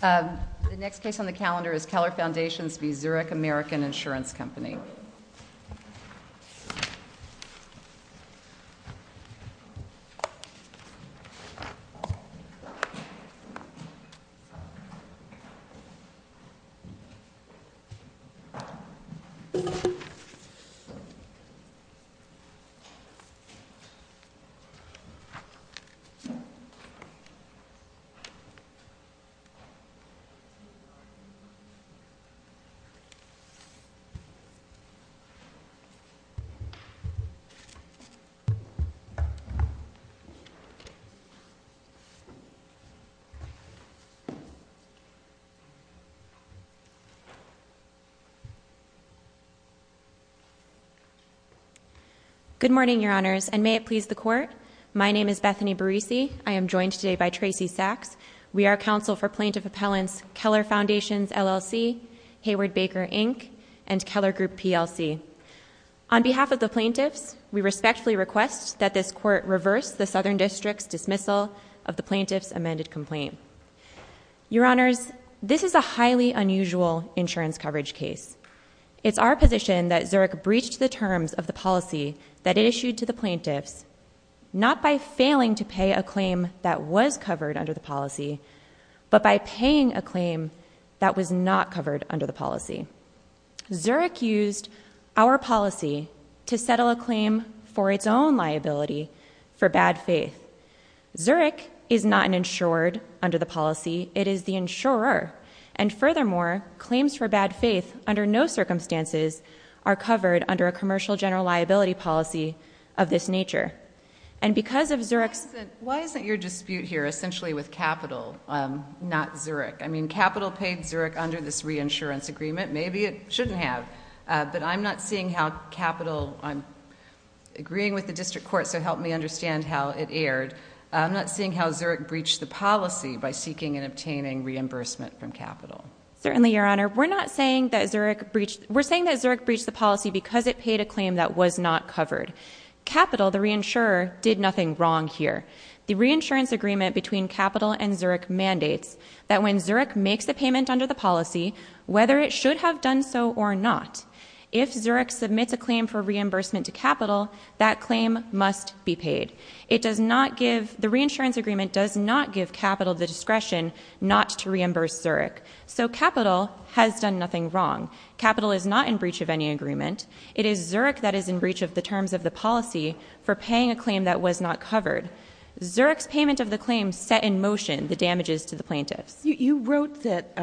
The next case on the calendar is Keller Foundations v. Zurich American Insurance Company. Good morning, your honors, and may it please the court. My name is Bethany Barisi, I am joined today by Tracy Sachs. We are counsel for Plaintiff Appellants Keller Foundations, LLC, Hayward Baker, Inc., and Keller Group, PLC. On behalf of the plaintiffs, we respectfully request that this court reverse the Southern District's dismissal of the plaintiff's amended complaint. Your honors, this is a highly unusual insurance coverage case. It's our position that Zurich breached the terms of the policy that it issued to the plaintiffs, not by failing to pay a claim that was covered under the policy, but by paying a claim that was not covered under the policy. Zurich used our policy to settle a claim for its own liability for bad faith. Zurich is not an insured under the policy, it is the insurer, and furthermore, claims for bad faith under no circumstances are covered under a commercial general liability policy of this nature. And because of Zurich's... Why isn't your dispute here essentially with capital, not Zurich? I mean, capital paid Zurich under this reinsurance agreement. Maybe it shouldn't have, but I'm not seeing how capital... Agreeing with the district court, so help me understand how it erred. I'm not seeing how Zurich breached the policy by seeking and obtaining reimbursement from capital. Certainly, your honor. We're not saying that Zurich breached... We're saying that Zurich breached the policy because it paid a claim that was not covered. Capital, the reinsurer, did nothing wrong here. The reinsurance agreement between capital and Zurich mandates that when Zurich makes a payment under the policy, whether it should have done so or not, if Zurich submits a claim for reimbursement to capital, that claim must be paid. It does not give... The reinsurance agreement does not give capital the discretion not to reimburse Zurich. So capital has done nothing wrong. Capital is not in breach of any agreement. It is Zurich that is in breach of the terms of the policy for paying a claim that was not covered. Zurich's payment of the claim set in motion the damages to the plaintiffs. You wrote that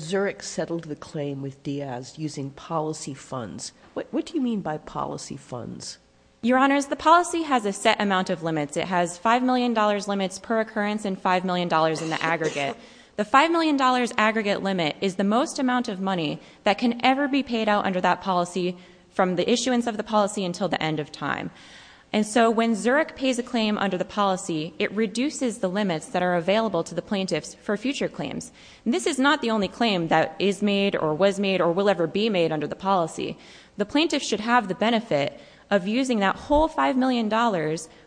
Zurich settled the claim with Diaz using policy funds. What do you mean by policy funds? Your honors, the policy has a set amount of limits. It has $5 million limits per occurrence and $5 million in the aggregate. The $5 million aggregate limit is the most amount of money that can ever be paid out under that policy from the issuance of the policy until the end of time. And so when Zurich pays a claim under the policy, it reduces the limits that are available to the plaintiffs for future claims. And this is not the only claim that is made or was made or will ever be made under the policy. The plaintiffs should have the benefit of using that whole $5 million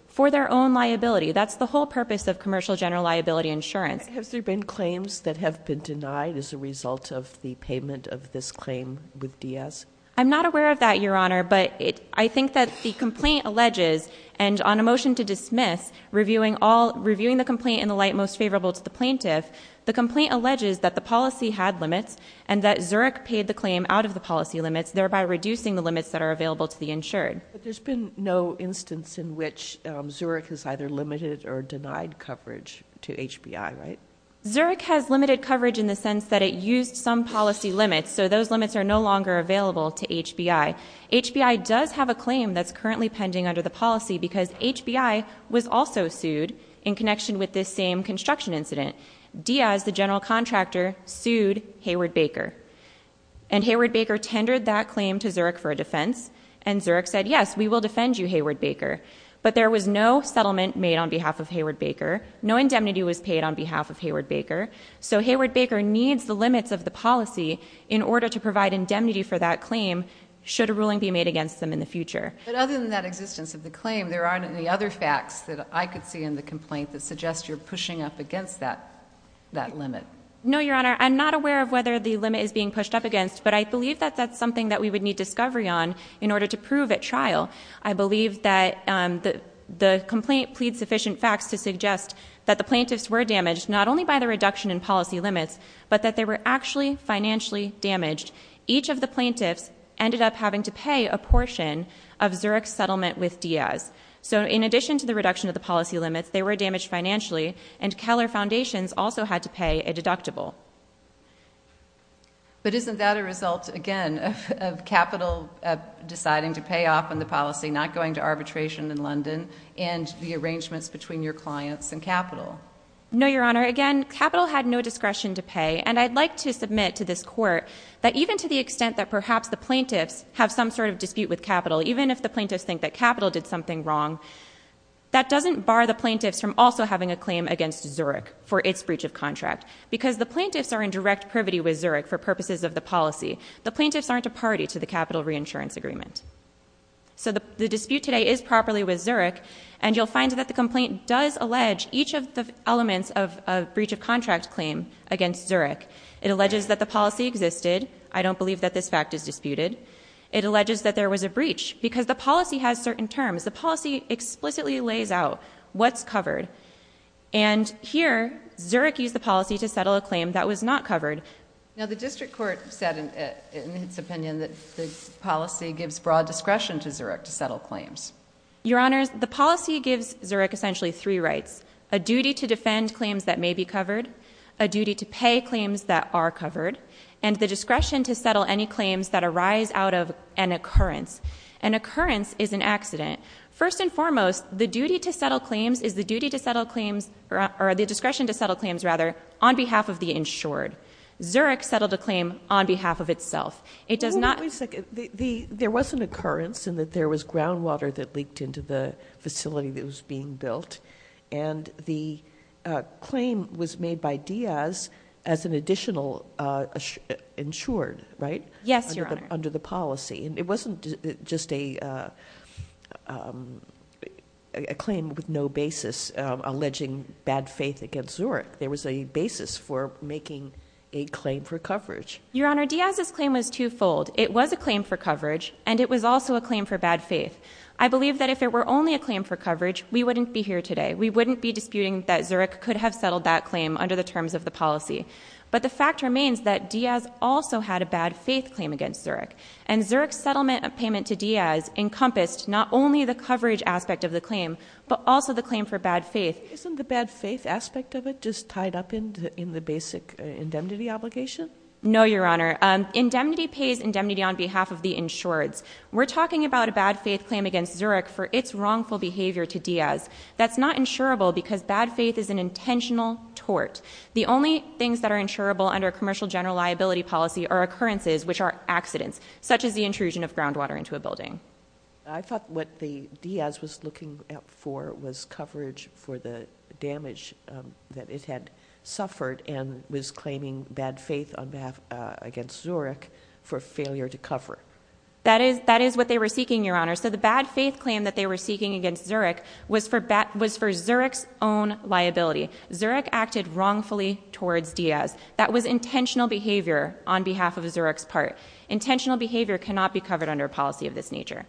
for their own liability. That's the whole purpose of commercial general liability insurance. Has there been claims that have been denied as a result of the payment of this claim with Diaz? I'm not aware of that, your honor, but I think that the complaint alleges, and on a motion to dismiss, reviewing the complaint in the light most favorable to the plaintiff, the complaint alleges that the policy had limits and that Zurich paid the claim out of the policy limits, thereby reducing the limits that are available to the insured. But there's been no instance in which Zurich has either limited or denied coverage to HBI, right? Zurich has limited coverage in the sense that it used some policy limits, so those limits are no longer available to HBI. HBI does have a claim that's currently pending under the policy because HBI was also sued in connection with this same construction incident. Diaz, the general contractor, sued Hayward-Baker. And Hayward-Baker tendered that claim to Zurich for a defense, and Zurich said, yes, we will defend you, Hayward-Baker. But there was no settlement made on behalf of Hayward-Baker. No indemnity was paid on behalf of Hayward-Baker. So Hayward-Baker needs the limits of the policy in order to provide indemnity for that claim should a ruling be made against them in the future. But other than that existence of the claim, there aren't any other facts that I could see in the complaint that suggest you're pushing up against that limit? No, your honor. I'm not aware of whether the limit is being pushed up against, but I believe that that's something that we would need discovery on in order to prove at trial. I believe that the complaint pleads sufficient facts to suggest that the plaintiffs were damaged not only by the reduction in policy limits, but that they were actually financially damaged. Each of the plaintiffs ended up having to pay a portion of Zurich's settlement with Diaz. So in addition to the reduction of the policy limits, they were damaged financially, and Keller Foundations also had to pay a deductible. But isn't that a result, again, of Capital deciding to pay off on the policy, not going to arbitration in London, and the arrangements between your clients and Capital? No, your honor. Again, Capital had no discretion to pay, and I'd like to submit to this court that even to the extent that perhaps the plaintiffs have some sort of dispute with Capital, even if the plaintiffs think that Capital did something wrong, that doesn't bar the plaintiffs from also having a claim against Zurich for its breach of contract. Because the plaintiffs are in direct privity with Zurich for purposes of the policy. The plaintiffs aren't a party to the Capital Reinsurance Agreement. So the dispute today is properly with Zurich, and you'll find that the complaint does allege each of the elements of a breach of contract claim against Zurich. It alleges that the policy existed. I don't believe that this fact is disputed. It alleges that there was a breach, because the policy has certain terms. The policy explicitly lays out what's covered. And here, Zurich used the policy to settle a claim that was not covered. Now, the district court said in its opinion that the policy gives broad discretion to Zurich to settle claims. Your honors, the policy gives Zurich essentially three rights. A duty to defend claims that may be covered. A duty to pay claims that are covered. And the discretion to settle any claims that arise out of an occurrence. An occurrence is an accident. First and foremost, the duty to settle claims is the duty to settle claims, or the discretion to settle claims, rather, on behalf of the insured. Zurich settled a claim on behalf of itself. It does not- Wait a second. There was an occurrence in that there was groundwater that leaked into the facility that was being built. And the claim was made by Diaz as an additional insured, right? Yes, Your Honor. Under the policy. And it wasn't just a claim with no basis alleging bad faith against Zurich. There was a basis for making a claim for coverage. Your Honor, Diaz's claim was twofold. It was a claim for coverage, and it was also a claim for bad faith. I believe that if it were only a claim for coverage, we wouldn't be here today. We wouldn't be disputing that Zurich could have settled that claim under the terms of the policy. But the fact remains that Diaz also had a bad faith claim against Zurich. And Zurich's settlement of payment to Diaz encompassed not only the coverage aspect of the claim, but also the claim for bad faith. Isn't the bad faith aspect of it just tied up in the basic indemnity obligation? No, Your Honor. Indemnity pays indemnity on behalf of the insureds. We're talking about a bad faith claim against Zurich for its wrongful behavior to Diaz. That's not insurable because bad faith is an intentional tort. The only things that are insurable under a commercial general liability policy are occurrences, which are accidents, such as the intrusion of groundwater into a building. I thought what Diaz was looking for was coverage for the damage that it had suffered and was claiming bad faith against Zurich for failure to cover. That is what they were seeking, Your Honor. So the bad faith claim that they were seeking against Zurich was for Zurich's own liability. Zurich acted wrongfully towards Diaz. That was intentional behavior on behalf of Zurich's part. Intentional behavior cannot be covered under a policy of this nature.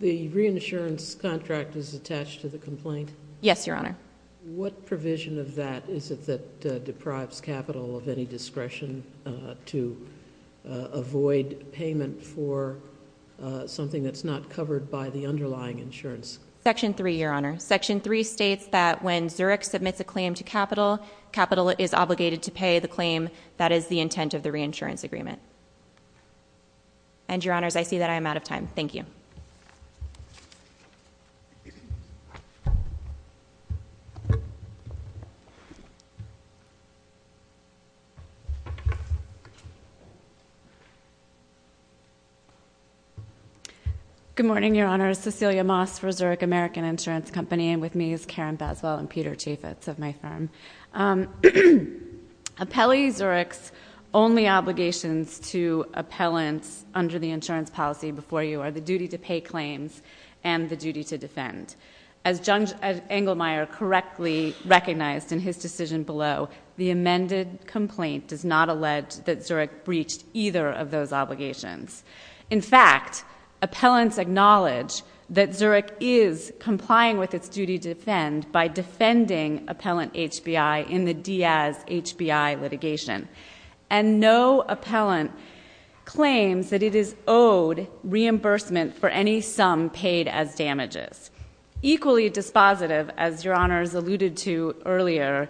The reinsurance contract is attached to the complaint? Yes, Your Honor. What provision of that is it that deprives capital of any discretion to avoid payment for something that's not covered by the underlying insurance? Section 3, Your Honor. Section 3 states that when Zurich submits a claim to capital, capital is obligated to pay the claim. That is the intent of the reinsurance agreement. And, Your Honors, I see that I am out of time. Thank you. Good morning, Your Honors. Cecilia Moss for Zurich American Insurance Company. And with me is Karen Baswell and Peter Chaffetz of my firm. Appellee Zurich's only obligations to appellants under the insurance policy before you are the duty to pay claims and the duty to defend. As Judge Engelmeyer correctly recognized in his decision below, the amended complaint does not allege that Zurich breached either of those obligations. In fact, appellants acknowledge that Zurich is complying with its duty to defend by defending appellant HBI in the Diaz HBI litigation. And no appellant claims that it is owed reimbursement for any sum paid as damages. Equally dispositive, as Your Honors alluded to earlier,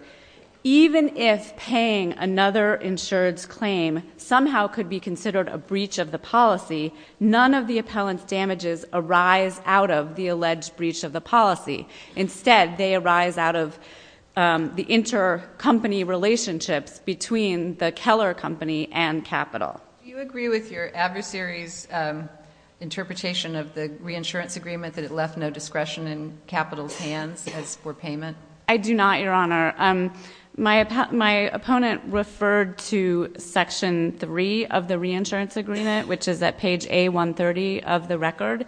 even if paying another insured's claim somehow could be considered a breach of the policy, none of the appellant's damages arise out of the alleged breach of the policy. Instead, they arise out of the intercompany relationships between the Keller company and capital. Do you agree with your adversary's interpretation of the reinsurance agreement that it left no discretion in capital's hands as for payment? I do not, Your Honor. My opponent referred to Section 3 of the reinsurance agreement, which is at page A130 of the record.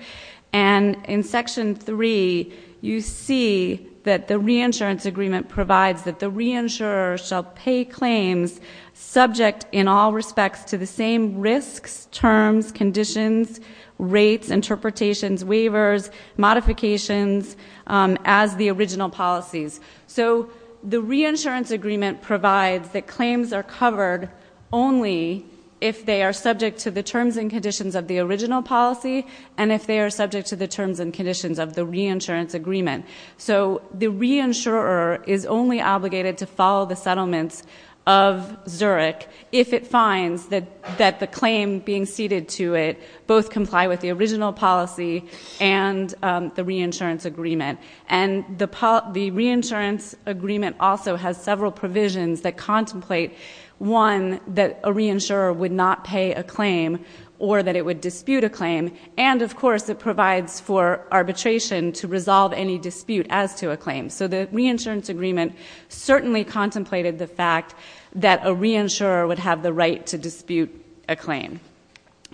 And in Section 3, you see that the reinsurance agreement provides that the reinsurer shall pay claims subject in all respects to the same risks, terms, conditions, rates, interpretations, waivers, modifications as the original policies. So the reinsurance agreement provides that claims are covered only if they are subject to the terms and conditions of the original policy. And if they are subject to the terms and conditions of the reinsurance agreement. So the reinsurer is only obligated to follow the settlements of Zurich if it finds that the claim being ceded to it both comply with the original policy and the reinsurance agreement. And the reinsurance agreement also has several provisions that contemplate, one, that a reinsurer would not pay a claim or that it would dispute a claim. And, of course, it provides for arbitration to resolve any dispute as to a claim. So the reinsurance agreement certainly contemplated the fact that a reinsurer would have the right to dispute a claim.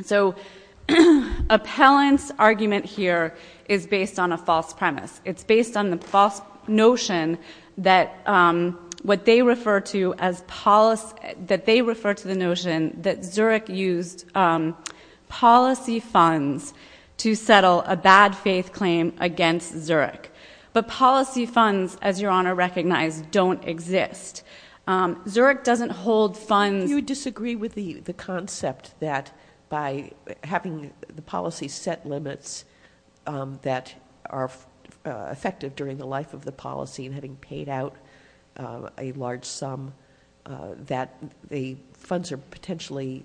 So appellant's argument here is based on a false premise. It's based on the false notion that what they refer to as policy, that they refer to the notion that Zurich used policy funds to settle a bad faith claim against Zurich. But policy funds, as your honor recognized, don't exist. Zurich doesn't hold funds. So you disagree with the concept that by having the policy set limits that are effective during the life of the policy and having paid out a large sum that the funds are potentially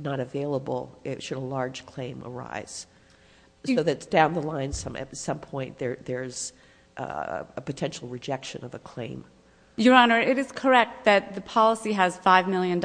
not available should a large claim arise. So that's down the line at some point there's a potential rejection of a claim. Your honor, it is correct that the policy has $5 million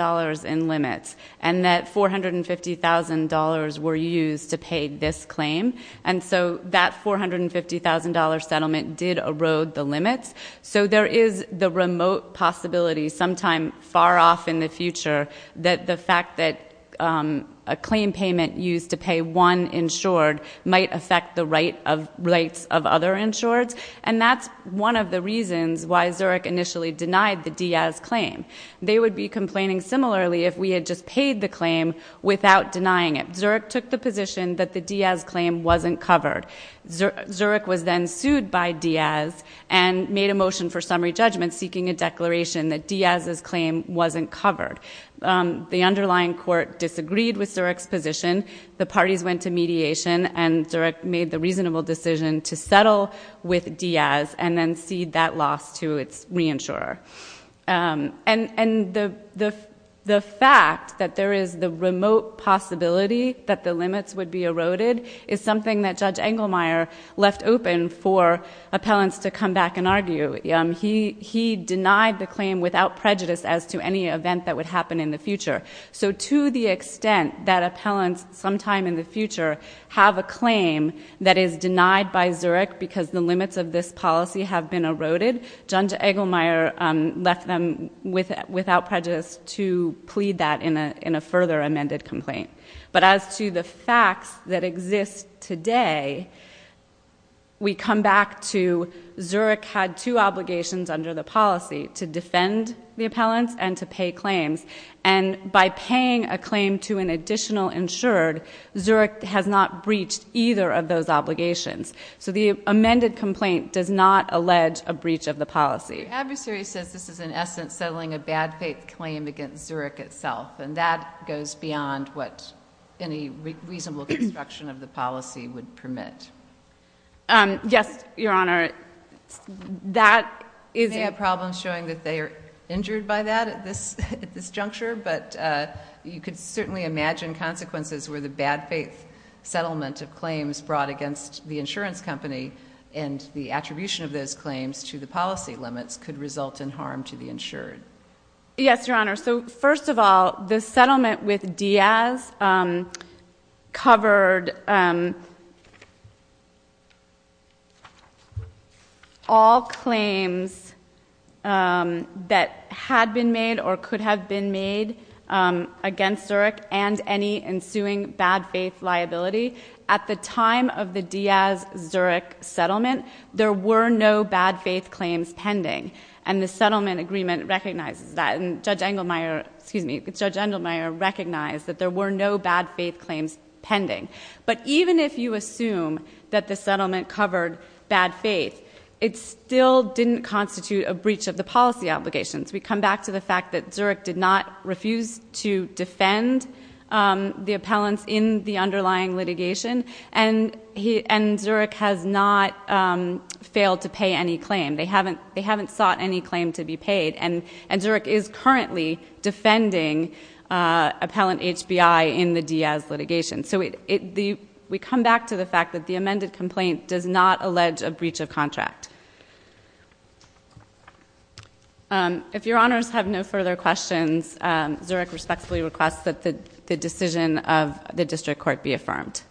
in limits and that $450,000 were used to pay this claim. And so that $450,000 settlement did erode the limits. So there is the remote possibility sometime far off in the future that the fact that a claim payment used to pay one insured might affect the rights of other insureds. And that's one of the reasons why Zurich initially denied the Diaz claim. They would be complaining similarly if we had just paid the claim without denying it. Zurich took the position that the Diaz claim wasn't covered. Zurich was then sued by Diaz and made a motion for summary judgment seeking a declaration that Diaz's claim wasn't covered. The underlying court disagreed with Zurich's position. The parties went to mediation and Zurich made the reasonable decision to settle with Diaz and then cede that loss to its reinsurer. And the fact that there is the remote possibility that the limits would be eroded is something that Judge Engelmeyer left open for appellants to come back and argue. He denied the claim without prejudice as to any event that would happen in the future. So to the extent that appellants sometime in the future have a claim that is denied by Zurich because the limits of this policy have been eroded, Judge Engelmeyer left them without prejudice to plead that in a further amended complaint. But as to the facts that exist today, we come back to Zurich had two obligations under the policy, to defend the appellants and to pay claims. And by paying a claim to an additional insured, Zurich has not breached either of those obligations. So the amended complaint does not allege a breach of the policy. The adversary says this is in essence settling a bad faith claim against Zurich itself, and that goes beyond what any reasonable construction of the policy would permit. Yes, Your Honor. I may have problems showing that they are injured by that at this juncture, but you could certainly imagine consequences where the bad faith settlement of claims brought against the insurance company and the attribution of those claims to the policy limits could result in harm to the insured. Yes, Your Honor. So first of all, the settlement with Diaz covered all claims that had been made or could have been made against Zurich and any ensuing bad faith liability. At the time of the Diaz-Zurich settlement, there were no bad faith claims pending, and the settlement agreement recognizes that. And Judge Engelmeyer, excuse me, Judge Engelmeyer recognized that there were no bad faith claims pending. But even if you assume that the settlement covered bad faith, it still didn't constitute a breach of the policy obligations. We come back to the fact that Zurich did not refuse to defend the appellants in the underlying litigation, and Zurich has not failed to pay any claim. They haven't sought any claim to be paid, and Zurich is currently defending appellant HBI in the Diaz litigation. So we come back to the fact that the amended complaint does not allege a breach of contract. If Your Honors have no further questions, Zurich respectfully requests that the decision of the district court be affirmed.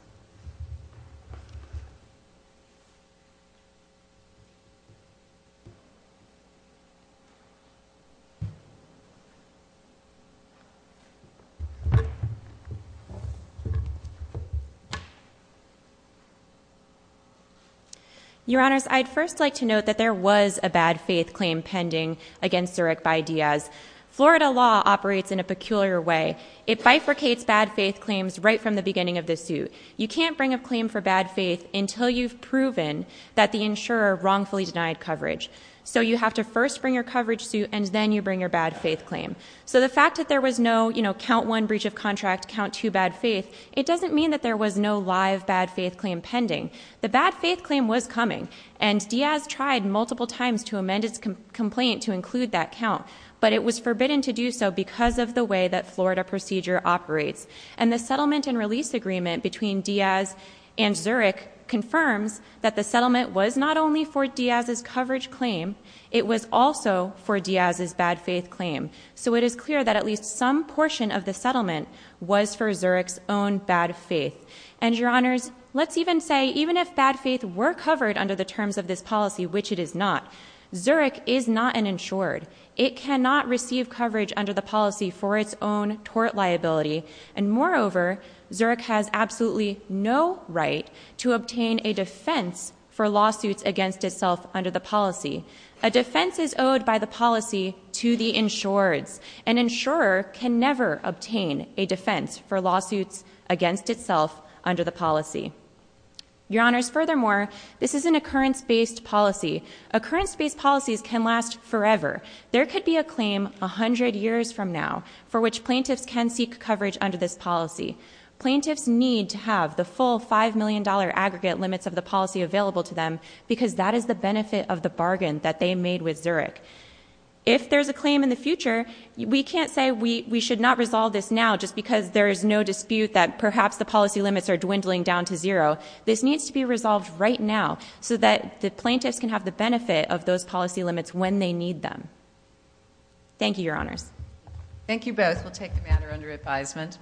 Your Honors, I'd first like to note that there was a bad faith claim pending against Zurich by Diaz. Florida law operates in a peculiar way. It bifurcates bad faith claims right from the beginning of the suit. You can't bring a claim for bad faith until you've proven that the insurer wrongfully denied coverage. So you have to first bring your coverage suit, and then you bring your bad faith claim. So the fact that there was no count one breach of contract, count two bad faith, it doesn't mean that there was no live bad faith claim pending. The bad faith claim was coming, and Diaz tried multiple times to amend its complaint to include that count. But it was forbidden to do so because of the way that Florida procedure operates. And the settlement and release agreement between Diaz and Zurich confirms that the settlement was not only for Diaz's coverage claim. It was also for Diaz's bad faith claim. So it is clear that at least some portion of the settlement was for Zurich's own bad faith. And Your Honors, let's even say even if bad faith were covered under the terms of this policy, which it is not, Zurich is not an insured. It cannot receive coverage under the policy for its own tort liability. And moreover, Zurich has absolutely no right to obtain a defense for lawsuits against itself under the policy. A defense is owed by the policy to the insureds. An insurer can never obtain a defense for lawsuits against itself under the policy. Your Honors, furthermore, this is an occurrence-based policy. Occurrence-based policies can last forever. There could be a claim 100 years from now for which plaintiffs can seek coverage under this policy. Plaintiffs need to have the full $5 million aggregate limits of the policy available to them because that is the benefit of the bargain that they made with Zurich. If there's a claim in the future, we can't say we should not resolve this now just because there is no dispute that perhaps the policy limits are dwindling down to zero. This needs to be resolved right now so that the plaintiffs can have the benefit of those policy limits when they need them. Thank you, Your Honors. Thank you both. We'll take the matter under advisement.